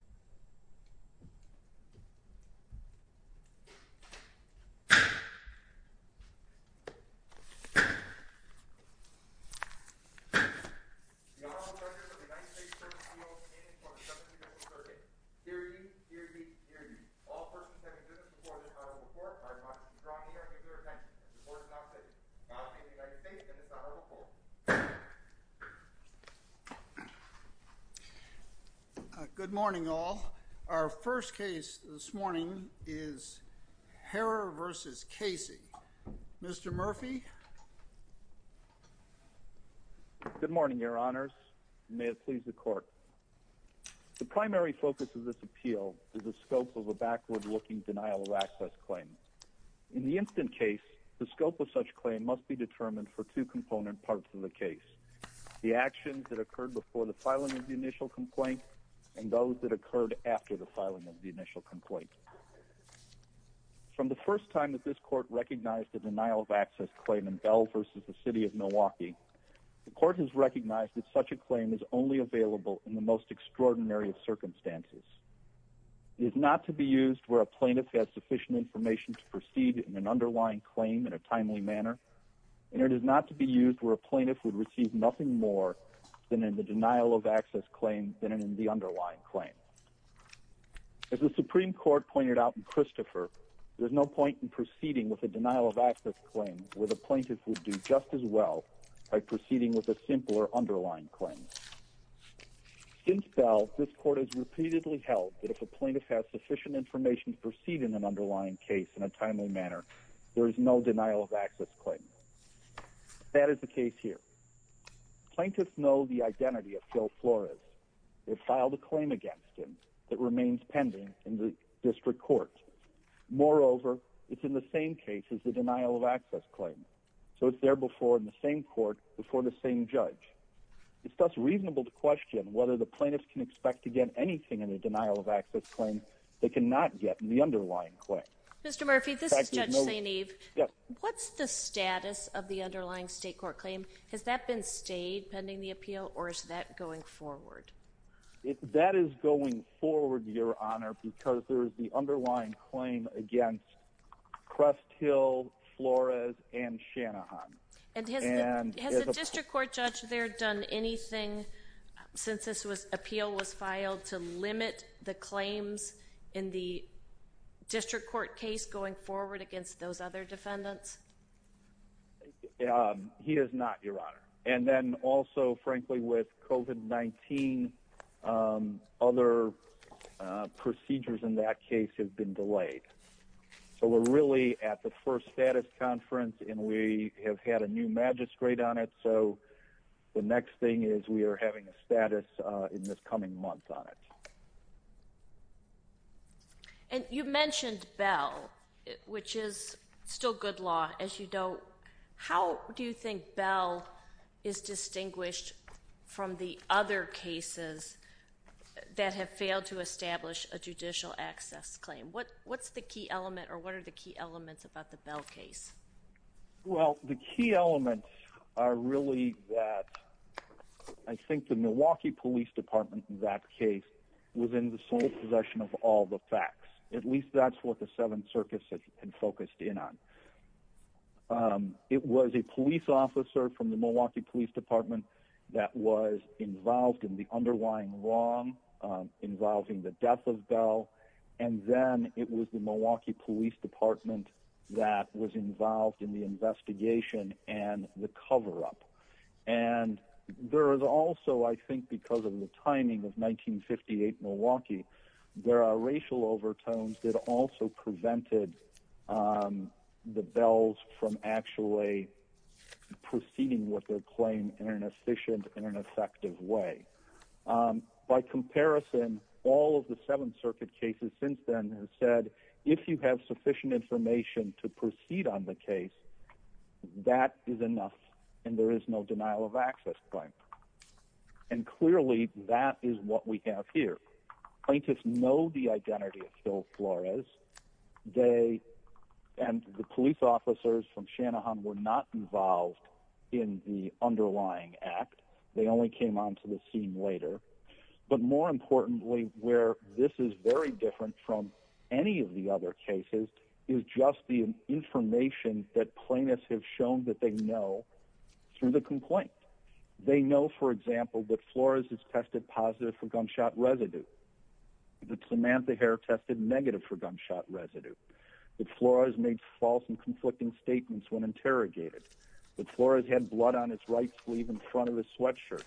The Honorable Judge of the United States Circuit of Appeals, standing before the Judge of the U.S. Circuit. Hear ye, hear ye, hear ye. All persons having business before the Honorable Court are admonished to draw near to your attention. The Court is now sitting. The Honorable Judge of the United States and the Honorable Court. Good morning, all. Our first case this morning is Harer v. Casey. Mr. Murphy. Good morning, Your Honors. May it please the Court. The primary focus of this appeal is the scope of a backward-looking denial-of-access claim. In the instant case, the scope of such claim must be determined for two component parts of the case. The actions that occurred before the filing of the initial complaint and those that occurred after the filing of the initial complaint. From the first time that this Court recognized a denial-of-access claim in Bell v. the City of Milwaukee, the Court has recognized that such a claim is only available in the most extraordinary of circumstances. It is not to be used where a plaintiff has sufficient information to proceed in an underlying claim in a timely manner, and it is not to be used where a plaintiff would receive nothing more than in the denial-of-access claim than in the underlying claim. As the Supreme Court pointed out in Christopher, there's no point in proceeding with a denial-of-access claim where the plaintiff would do just as well by proceeding with a simpler underlying claim. Since Bell, this Court has repeatedly held that if a plaintiff has sufficient information to proceed in an underlying case in a timely manner, there is no denial-of-access claim. That is the case here. Plaintiffs know the identity of Phil Flores. They've filed a claim against him that remains pending in the district court. Moreover, it's in the same case as the denial-of-access claim, so it's there before in the same court before the same judge. It's thus reasonable to question whether the plaintiffs can expect to get anything in a denial-of-access claim they cannot get in the underlying claim. Mr. Murphy, this is Judge St. Eve. What's the status of the underlying state court claim? Has that been stayed pending the appeal, or is that going forward? That is going forward, Your Honor, because there is the underlying claim against Crest Hill, Flores, and Shanahan. And has the district court judge there done anything since this appeal was filed to limit the claims in the district court case going forward against those other defendants? He has not, Your Honor. And then also, frankly, with COVID-19, other procedures in that case have been delayed. So we're really at the first status conference, and we have had a new magistrate on it, so the next thing is we are having a status in this coming month on it. And you mentioned Bell, which is still good law, as you know. How do you think Bell is distinguished from the other cases that have failed to establish a judicial access claim? What's the key element, or what are the key elements about the Bell case? Well, the key elements are really that I think the Milwaukee Police Department in that case was in the sole possession of all the facts. At least that's what the Seventh Circus has been focused in on. It was a police officer from the Milwaukee Police Department that was involved in the underlying wrong involving the death of Bell. And then it was the Milwaukee Police Department that was involved in the investigation and the cover-up. And there is also, I think because of the timing of 1958 Milwaukee, there are racial overtones that also prevented the Bells from actually proceeding with their claim in an efficient and effective way. By comparison, all of the Seventh Circuit cases since then have said if you have sufficient information to proceed on the case, that is enough and there is no denial of access claim. And clearly that is what we have here. Plaintiffs know the identity of Phil Flores. They and the police officers from Shanahan were not involved in the underlying act. They only came onto the scene later. But more importantly, where this is very different from any of the other cases, is just the information that plaintiffs have shown that they know through the complaint. They know, for example, that Flores is tested positive for gunshot residue. That Samantha Hare tested negative for gunshot residue. That Flores made false and conflicting statements when interrogated. That Flores had blood on his right sleeve in front of his sweatshirt.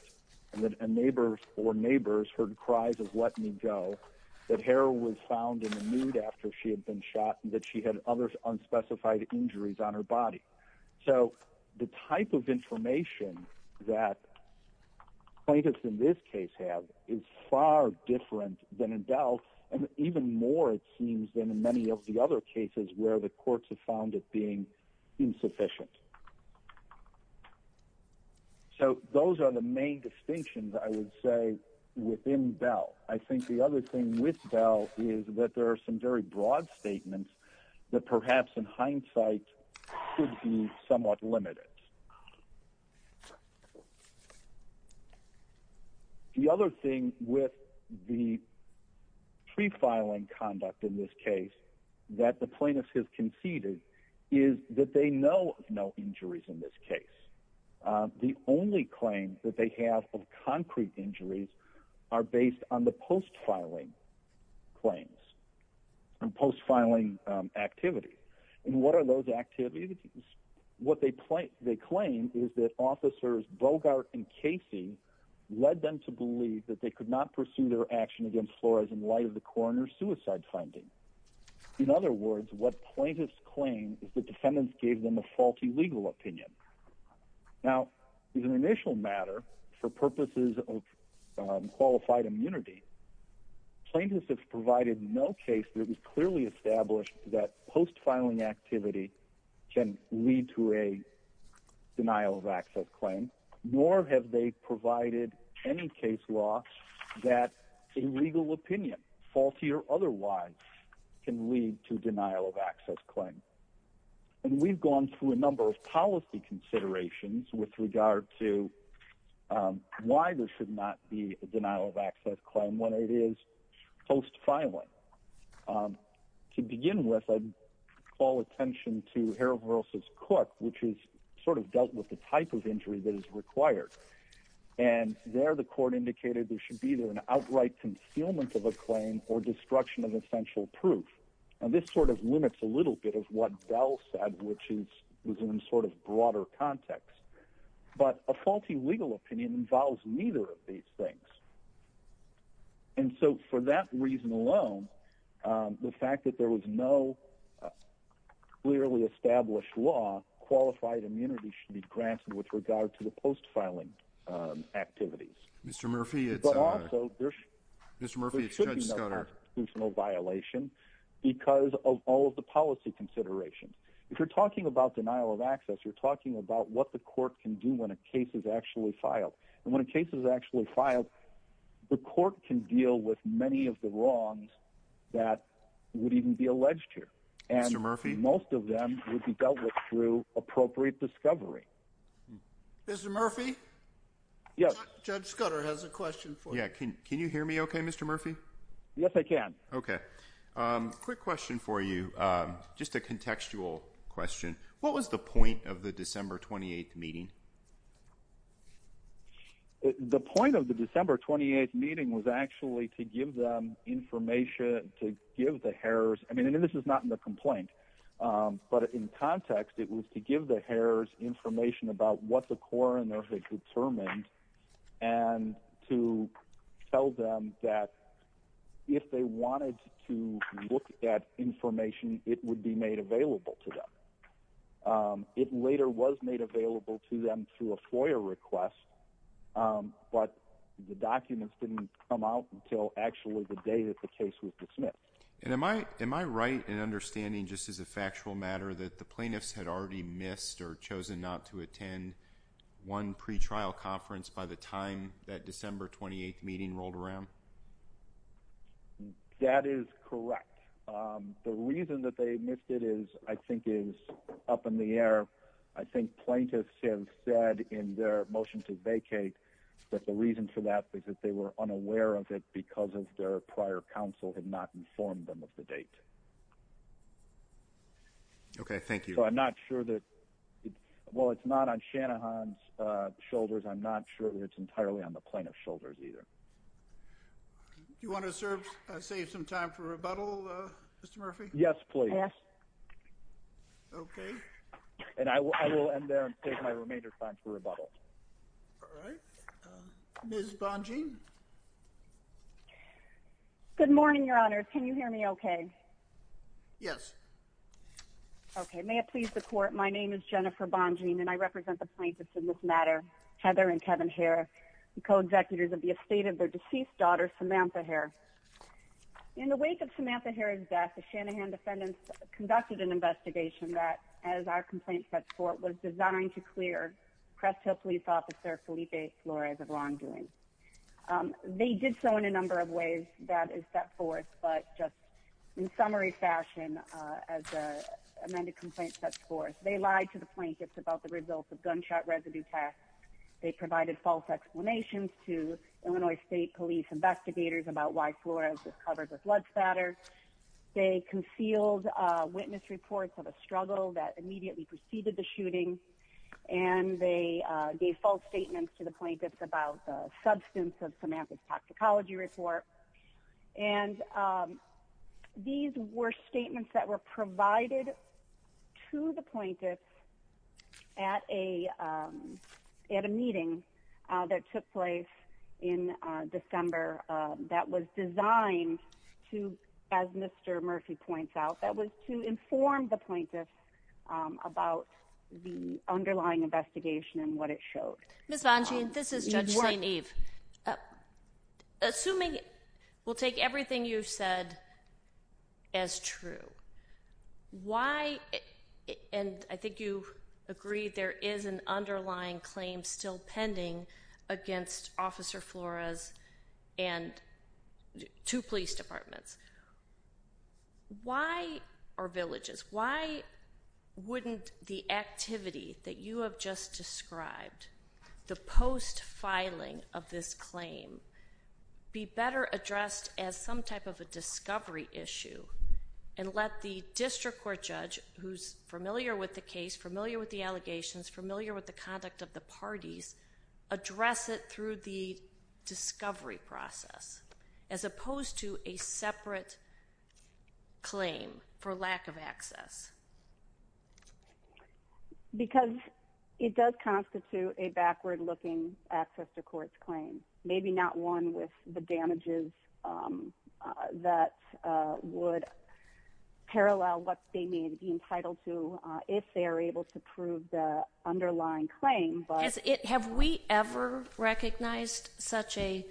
And that a neighbor or neighbors heard cries of let me go. That Hare was found in a mood after she had been shot. And that she had other unspecified injuries on her body. So the type of information that plaintiffs in this case have is far different than in Bells. And even more, it seems, than in many of the other cases where the courts have found it being insufficient. So those are the main distinctions, I would say, within Bell. I think the other thing with Bell is that there are some very broad statements that perhaps in hindsight could be somewhat limited. The other thing with the pre-filing conduct in this case that the plaintiffs have conceded is that they know of no injuries in this case. The only claims that they have of concrete injuries are based on the post-filing claims and post-filing activities. And what are those activities? What they claim is that officers Bogart and Casey led them to believe that they could not pursue their action against Flores in light of the coroner's suicide findings. In other words, what plaintiffs claim is that defendants gave them a faulty legal opinion. Now, as an initial matter, for purposes of qualified immunity, plaintiffs have provided no case that is clearly established that post-filing activity can lead to a denial of access claim, nor have they provided any case law that a legal opinion, faulty or otherwise, can lead to denial of access claim. And we've gone through a number of policy considerations with regard to why there should not be a denial of access claim when it is post-filing. To begin with, I'd call attention to Harold Ross's Cook, which is sort of dealt with the type of injury that is required. And there the court indicated there should be either an outright concealment of a claim or destruction of essential proof. And this sort of limits a little bit of what Dell said, which is within sort of broader context. But a faulty legal opinion involves neither of these things. And so for that reason alone, the fact that there was no clearly established law, qualified immunity should be granted with regard to the post-filing activities. But also, there should be no constitutional violation because of all of the policy considerations. If you're talking about denial of access, you're talking about what the court can do when a case is actually filed. And when a case is actually filed, the court can deal with many of the wrongs that would even be alleged here. And most of them would be dealt with through appropriate discovery. Mr. Murphy? Yes. Judge Scudder has a question for you. Can you hear me okay, Mr. Murphy? Yes, I can. Okay. Quick question for you. Just a contextual question. What was the point of the December 28th meeting? The point of the December 28th meeting was actually to give them information, to give the Harrors – and this is not in the complaint. But in context, it was to give the Harrors information about what the coroner had determined and to tell them that if they wanted to look at information, it would be made available to them. It later was made available to them through a FOIA request, but the documents didn't come out until actually the day that the case was dismissed. And am I right in understanding, just as a factual matter, that the plaintiffs had already missed or chosen not to attend one pretrial conference by the time that December 28th meeting rolled around? That is correct. The reason that they missed it is, I think, is up in the air. I think plaintiffs have said in their motion to vacate that the reason for that is that they were unaware of it because their prior counsel had not informed them of the date. Okay, thank you. So I'm not sure that – well, it's not on Shanahan's shoulders. I'm not sure that it's entirely on the plaintiff's shoulders either. Do you want to save some time for rebuttal, Mr. Murphy? Yes, please. Okay. And I will end there and save my remainder time for rebuttal. All right. Ms. Bongean? Good morning, Your Honor. Can you hear me okay? Yes. Okay. May it please the Court, my name is Jennifer Bongean, and I represent the plaintiffs in this matter, Heather and Kevin Hare, the co-executives of the estate of their deceased daughter, Samantha Hare. In the wake of Samantha Hare's death, the Shanahan defendants conducted an investigation that, as our complaint sets forth, was designed to clear Crest Hill Police Officer Felipe Flores of wrongdoing. They did so in a number of ways that is set forth, but just in summary fashion, as the amended complaint sets forth, they lied to the plaintiffs about the results of gunshot residue tests. They provided false explanations to Illinois State Police investigators about why Flores was covered with blood spatter. They concealed witness reports of a struggle that immediately preceded the shooting. And they gave false statements to the plaintiffs about the substance of Samantha's toxicology report. And these were statements that were provided to the plaintiffs at a meeting that took place in December that was designed to, as Mr. Murphy points out, that was to inform the plaintiffs about the underlying investigation and what it showed. Ms. Bongean, this is Judge St. Eve. Assuming we'll take everything you've said as true, why, and I think you agree there is an underlying claim still pending against Officer Flores and two police departments. Why, or villages, why wouldn't the activity that you have just described, the post-filing of this claim, be better addressed as some type of a discovery issue? And let the district court judge, who's familiar with the case, familiar with the allegations, familiar with the conduct of the parties, address it through the discovery process, as opposed to a separate claim for lack of access? Because it does constitute a backward-looking access-to-courts claim. Maybe not one with the damages that would parallel what they may be entitled to if they are able to prove the underlying claim. Have we ever recognized such a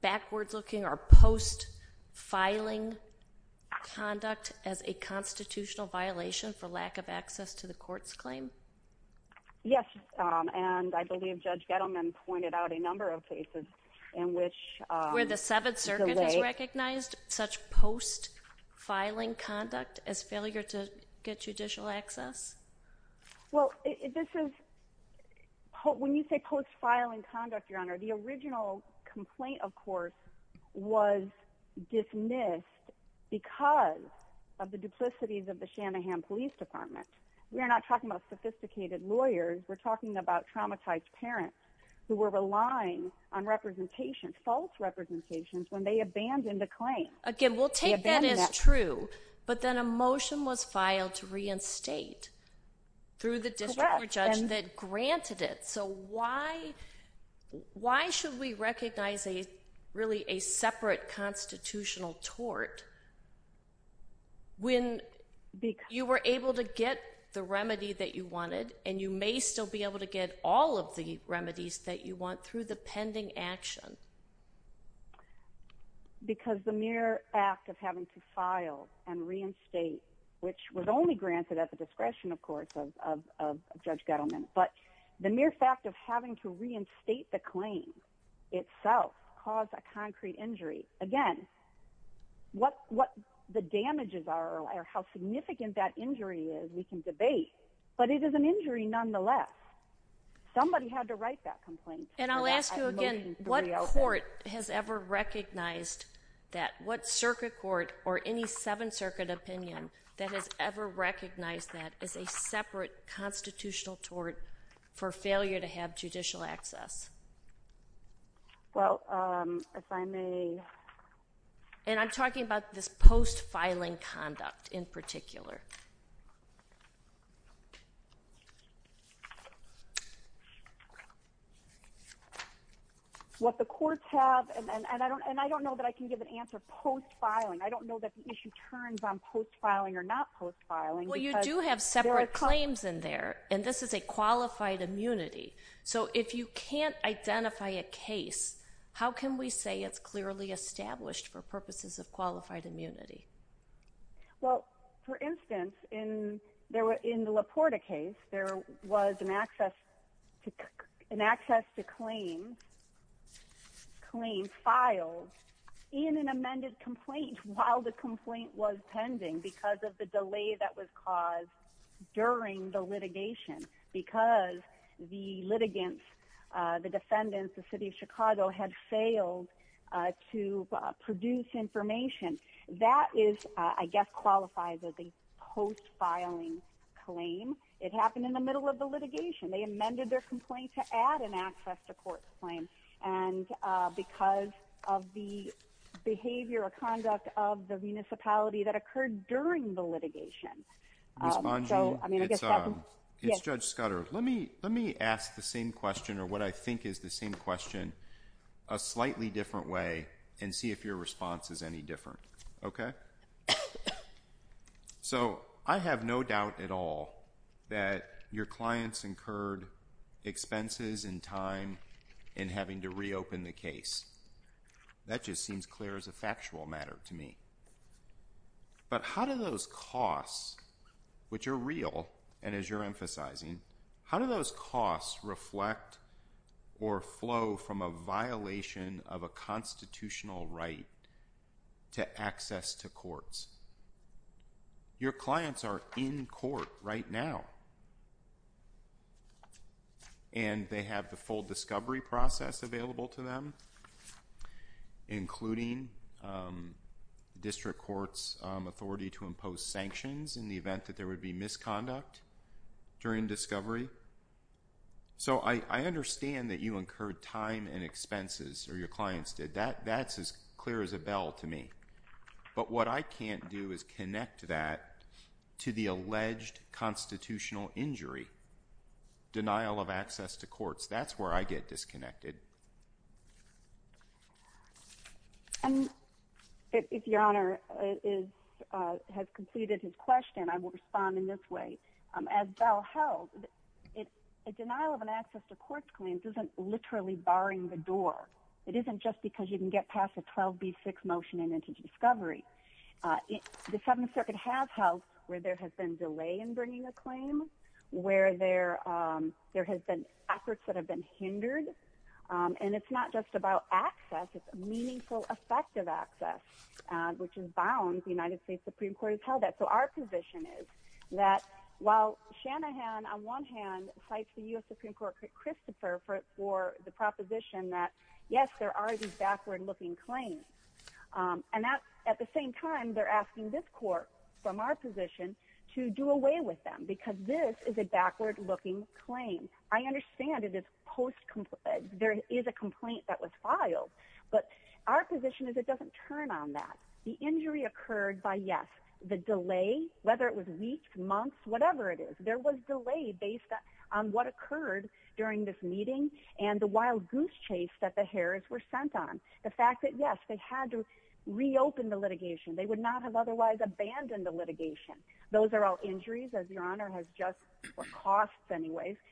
backwards-looking or post-filing conduct as a constitutional violation for lack of access to the courts claim? Yes, and I believe Judge Gettleman pointed out a number of cases in which it's delayed. Where the Seventh Circuit has recognized such post-filing conduct as failure to get judicial access? Well, this is, when you say post-filing conduct, Your Honor, the original complaint, of course, was dismissed because of the duplicities of the Shanahan Police Department. We are not talking about sophisticated lawyers. We're talking about traumatized parents who were relying on representations, false representations, when they abandoned a claim. Again, we'll take that as true, but then a motion was filed to reinstate through the district court judge that granted it. So why should we recognize, really, a separate constitutional tort when you were able to get the remedy that you wanted, and you may still be able to get all of the remedies that you want through the pending action? Because the mere act of having to file and reinstate, which was only granted at the discretion, of course, of Judge Gettleman, but the mere fact of having to reinstate the claim itself caused a concrete injury. Again, what the damages are or how significant that injury is, we can debate, but it is an injury nonetheless. Somebody had to write that complaint. And I'll ask you again, what court has ever recognized that? What circuit court or any Seventh Circuit opinion that has ever recognized that as a separate constitutional tort for failure to have judicial access? Well, if I may... And I'm talking about this post-filing conduct, in particular. What the courts have, and I don't know that I can give an answer post-filing. I don't know that the issue turns on post-filing or not post-filing. Well, you do have separate claims in there, and this is a qualified immunity. So if you can't identify a case, how can we say it's clearly established for purposes of qualified immunity? Well, for instance, in the LaPorta case, there was an access to claim filed in an amended complaint while the complaint was pending because of the delay that was caused during the litigation, because the litigants, the defendants, the city of Chicago had failed to produce information. That is, I guess, qualifies as a post-filing claim. It happened in the middle of the litigation. They amended their complaint to add an access to court claim because of the behavior or conduct of the municipality that occurred during the litigation. Ms. Bongi, it's Judge Scudder. Let me ask the same question, or what I think is the same question, a slightly different way and see if your response is any different. Okay? So I have no doubt at all that your clients incurred expenses and time in having to reopen the case. That just seems clear as a factual matter to me. But how do those costs, which are real, and as you're emphasizing, how do those costs reflect or flow from a violation of a constitutional right to access to courts? Your clients are in court right now, and they have the full discovery process available to them, including district courts' authority to impose sanctions in the event that there would be misconduct during discovery. So I understand that you incurred time and expenses, or your clients did. That's as clear as a bell to me. But what I can't do is connect that to the alleged constitutional injury, denial of access to courts. That's where I get disconnected. If Your Honor has completed his question, I will respond in this way. As Bell held, a denial of access to courts claims isn't literally barring the door. It isn't just because you can get past a 12b6 motion and into discovery. The Seventh Circuit has held where there has been delay in bringing a claim, where there has been efforts that have been hindered. And it's not just about access. It's meaningful, effective access, which is bound. The United States Supreme Court has held that. So our position is that while Shanahan, on one hand, cites the U.S. Supreme Court Christopher for the proposition that, yes, there are these backward-looking claims. And at the same time, they're asking this court, from our position, to do away with them, because this is a backward-looking claim. I understand it is post-complaint. There is a complaint that was filed. But our position is it doesn't turn on that. The injury occurred by, yes, the delay, whether it was weeks, months, whatever it is. There was delay based on what occurred during this meeting and the wild goose chase that the Harrods were sent on. The fact that, yes, they had to reopen the litigation. They would not have otherwise abandoned the litigation. Those are all injuries, as Your Honor has just – or costs, anyways –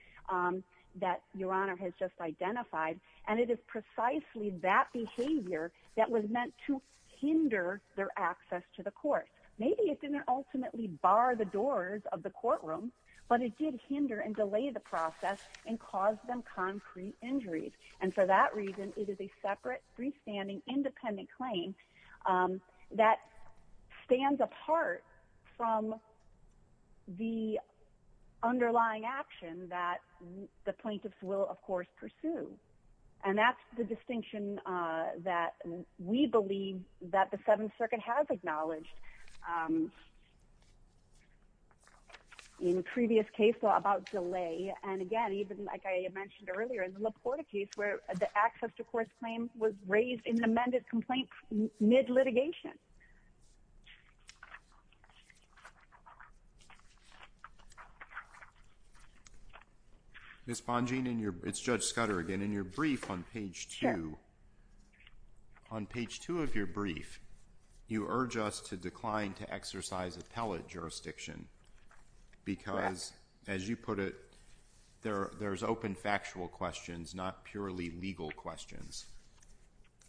that Your Honor has just identified. And it is precisely that behavior that was meant to hinder their access to the court. Maybe it didn't ultimately bar the doors of the courtroom, but it did hinder and delay the process and cause them concrete injuries. And for that reason, it is a separate, freestanding, independent claim that stands apart from the underlying action that the plaintiffs will, of course, pursue. And that's the distinction that we believe that the Seventh Circuit has acknowledged in previous cases about delay. And, again, even like I mentioned earlier in the LaPorta case where the access to court claims was raised in the amended complaint mid-litigation. Ms. Bongean, it's Judge Scudder again. In your brief on page 2, on page 2 of your brief, you urge us to decline to exercise appellate jurisdiction because, as you put it, there's open factual questions, not purely legal questions.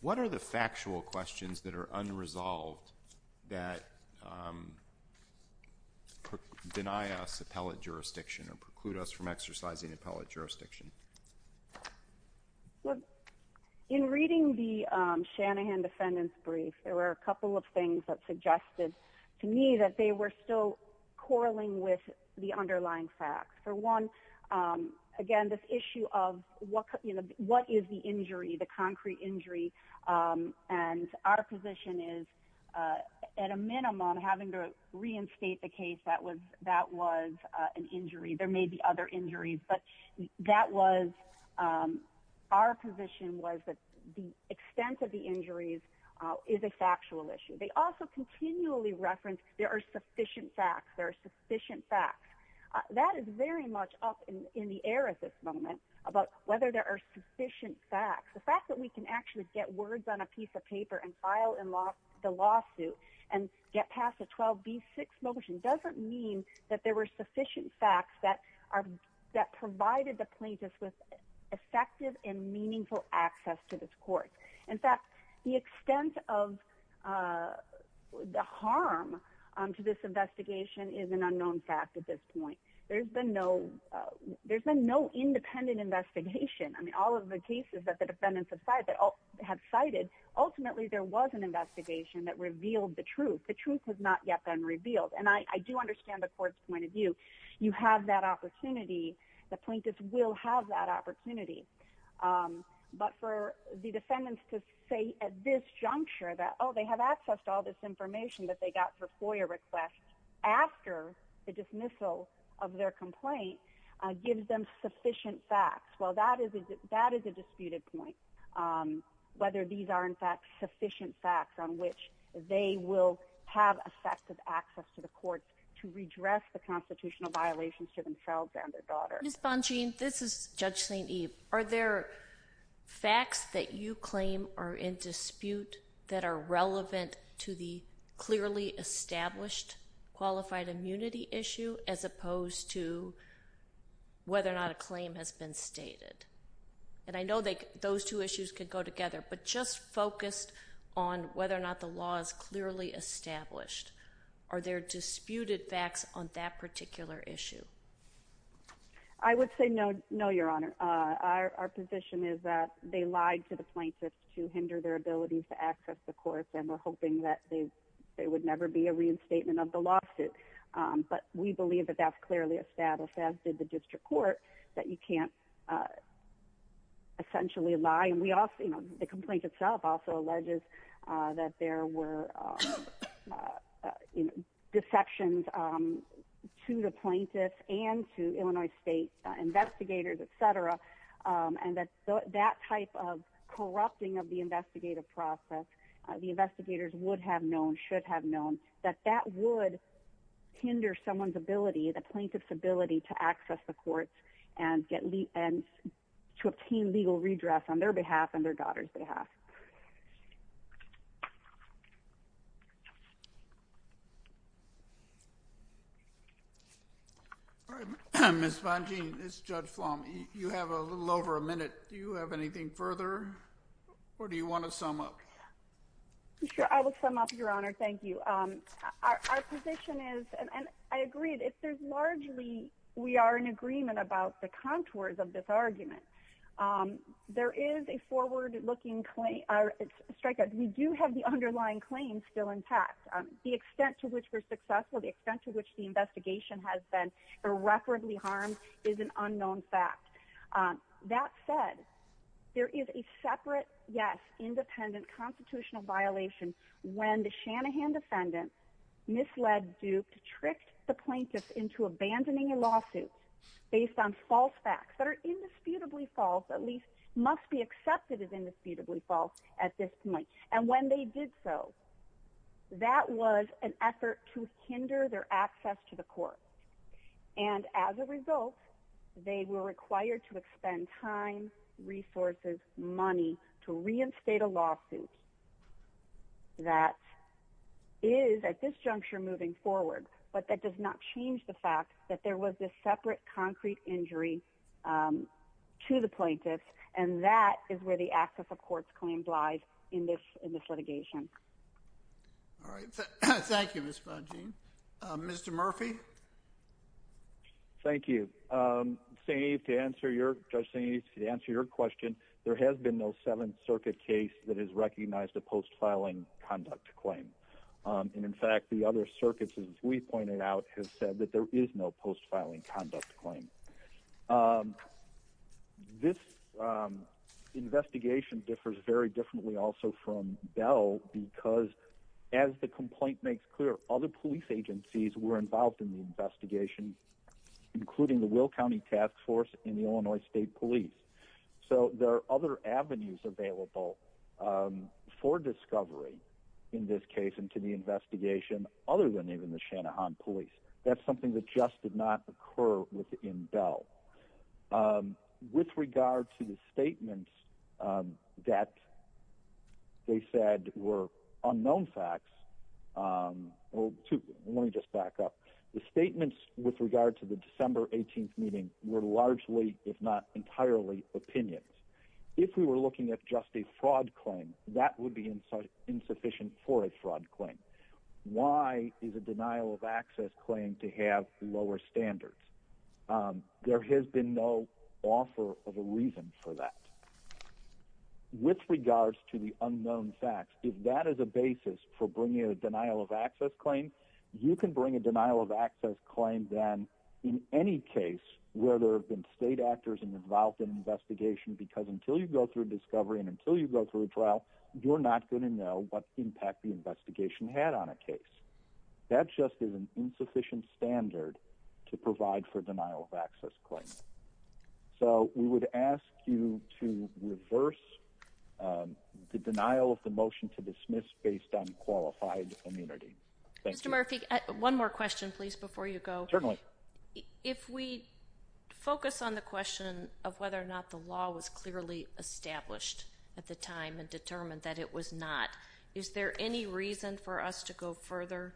What are the factual questions that are unresolved that deny us appellate jurisdiction or preclude us from exercising appellate jurisdiction? Well, in reading the Shanahan defendant's brief, there were a couple of things that suggested to me that they were still quarreling with the underlying facts. For one, again, this issue of what is the injury, the concrete injury, and our position is, at a minimum, having to reinstate the case that that was an injury. There may be other injuries, but that was our position was that the extent of the injuries is a factual issue. They also continually reference there are sufficient facts. There are sufficient facts. That is very much up in the air at this moment about whether there are sufficient facts. The fact that we can actually get words on a piece of paper and file the lawsuit and get past the 12B6 motion doesn't mean that there were sufficient facts that provided the plaintiff with effective and meaningful access to this court. In fact, the extent of the harm to this investigation is an unknown fact at this point. There's been no independent investigation. I mean, all of the cases that the defendants have cited, ultimately there was an investigation that revealed the truth. The truth has not yet been revealed. And I do understand the court's point of view. You have that opportunity. The plaintiffs will have that opportunity. But for the defendants to say at this juncture that, oh, they have access to all this information that they got for FOIA requests after the dismissal of their complaint gives them sufficient facts. Well, that is a disputed point, whether these are, in fact, sufficient facts on which they will have effective access to the court to redress the constitutional violations to themselves and their daughter. Ms. Bongean, this is Judge St. Eve. Are there facts that you claim are in dispute that are relevant to the clearly established qualified immunity issue as opposed to whether or not a claim has been stated? And I know those two issues could go together, but just focus on whether or not the law is clearly established. Are there disputed facts on that particular issue? I would say no, Your Honor. Our position is that they lied to the plaintiffs to hinder their ability to access the court, and we're hoping that there would never be a reinstatement of the lawsuit. But we believe that that's clearly established, as did the district court, that you can't essentially lie. The complaint itself also alleges that there were dissections to the plaintiffs and to Illinois State investigators, etc., and that that type of corrupting of the investigative process, the investigators would have known, should have known, that that would hinder someone's ability, the plaintiff's ability, to access the court and to obtain legal redress on their behalf and their daughter's behalf. Ms. Bongean, this is Judge Flom. You have a little over a minute. Do you have anything further, or do you want to sum up? Sure, I will sum up, Your Honor. Thank you. Our position is, and I agree, largely we are in agreement about the contours of this argument. There is a forward-looking strikeout. We do have the underlying claims still intact. The extent to which we're successful, the extent to which the investigation has been irreparably harmed, is an unknown fact. That said, there is a separate, yes, independent constitutional violation when the Shanahan defendant misled Duke to trick the plaintiffs into abandoning a lawsuit based on false facts that are indisputably false, at least must be accepted as indisputably false at this point. And when they did so, that was an effort to hinder their access to the court. And as a result, they were required to expend time, resources, money to reinstate a lawsuit that is, at this juncture, moving forward. But that does not change the fact that there was this separate concrete injury to the plaintiffs, and that is where the act of the court's claim lies in this litigation. All right. Thank you, Ms. Bongean. Mr. Murphy? Thank you. To answer your question, there has been no Seventh Circuit case that has recognized a post-filing conduct claim. And, in fact, the other circuits, as we pointed out, have said that there is no post-filing conduct claim. This investigation differs very differently also from Bell because, as the complaint makes clear, other police agencies were involved in the investigation, including the Will County Task Force and the Illinois State Police. So there are other avenues available for discovery in this case and to the investigation other than even the Shanahan Police. That's something that just did not occur within Bell. With regard to the statements that they said were unknown facts – well, let me just back up. The statements with regard to the December 18th meeting were largely, if not entirely, opinions. If we were looking at just a fraud claim, that would be insufficient for a fraud claim. Why is a denial-of-access claim to have lower standards? There has been no offer of a reason for that. With regard to the unknown facts, if that is a basis for bringing a denial-of-access claim, you can bring a denial-of-access claim then in any case where there have been state actors involved in the investigation because until you go through a discovery and until you go through a trial, you're not going to know what impact the investigation had on a case. That just is an insufficient standard to provide for denial-of-access claims. So we would ask you to reverse the denial of the motion to dismiss based on qualified immunity. One more question, please, before you go. Certainly. If we focus on the question of whether or not the law was clearly established at the time and determined that it was not, is there any reason for us to go further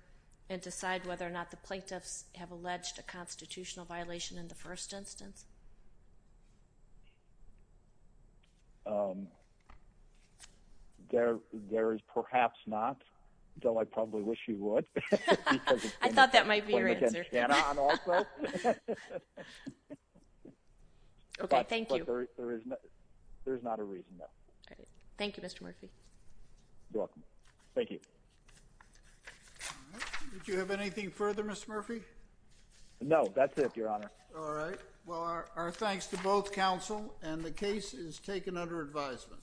and decide whether or not the plaintiffs have alleged a constitutional violation in the first instance? There is perhaps not, though I probably wish you would. I thought that might be your answer. Okay, thank you. There is not a reason, though. Thank you, Mr. Murphy. You're welcome. Thank you. Did you have anything further, Mr. Murphy? No, that's it, Your Honor. All right. Well, our thanks to both counsel, and the case is taken under advisement.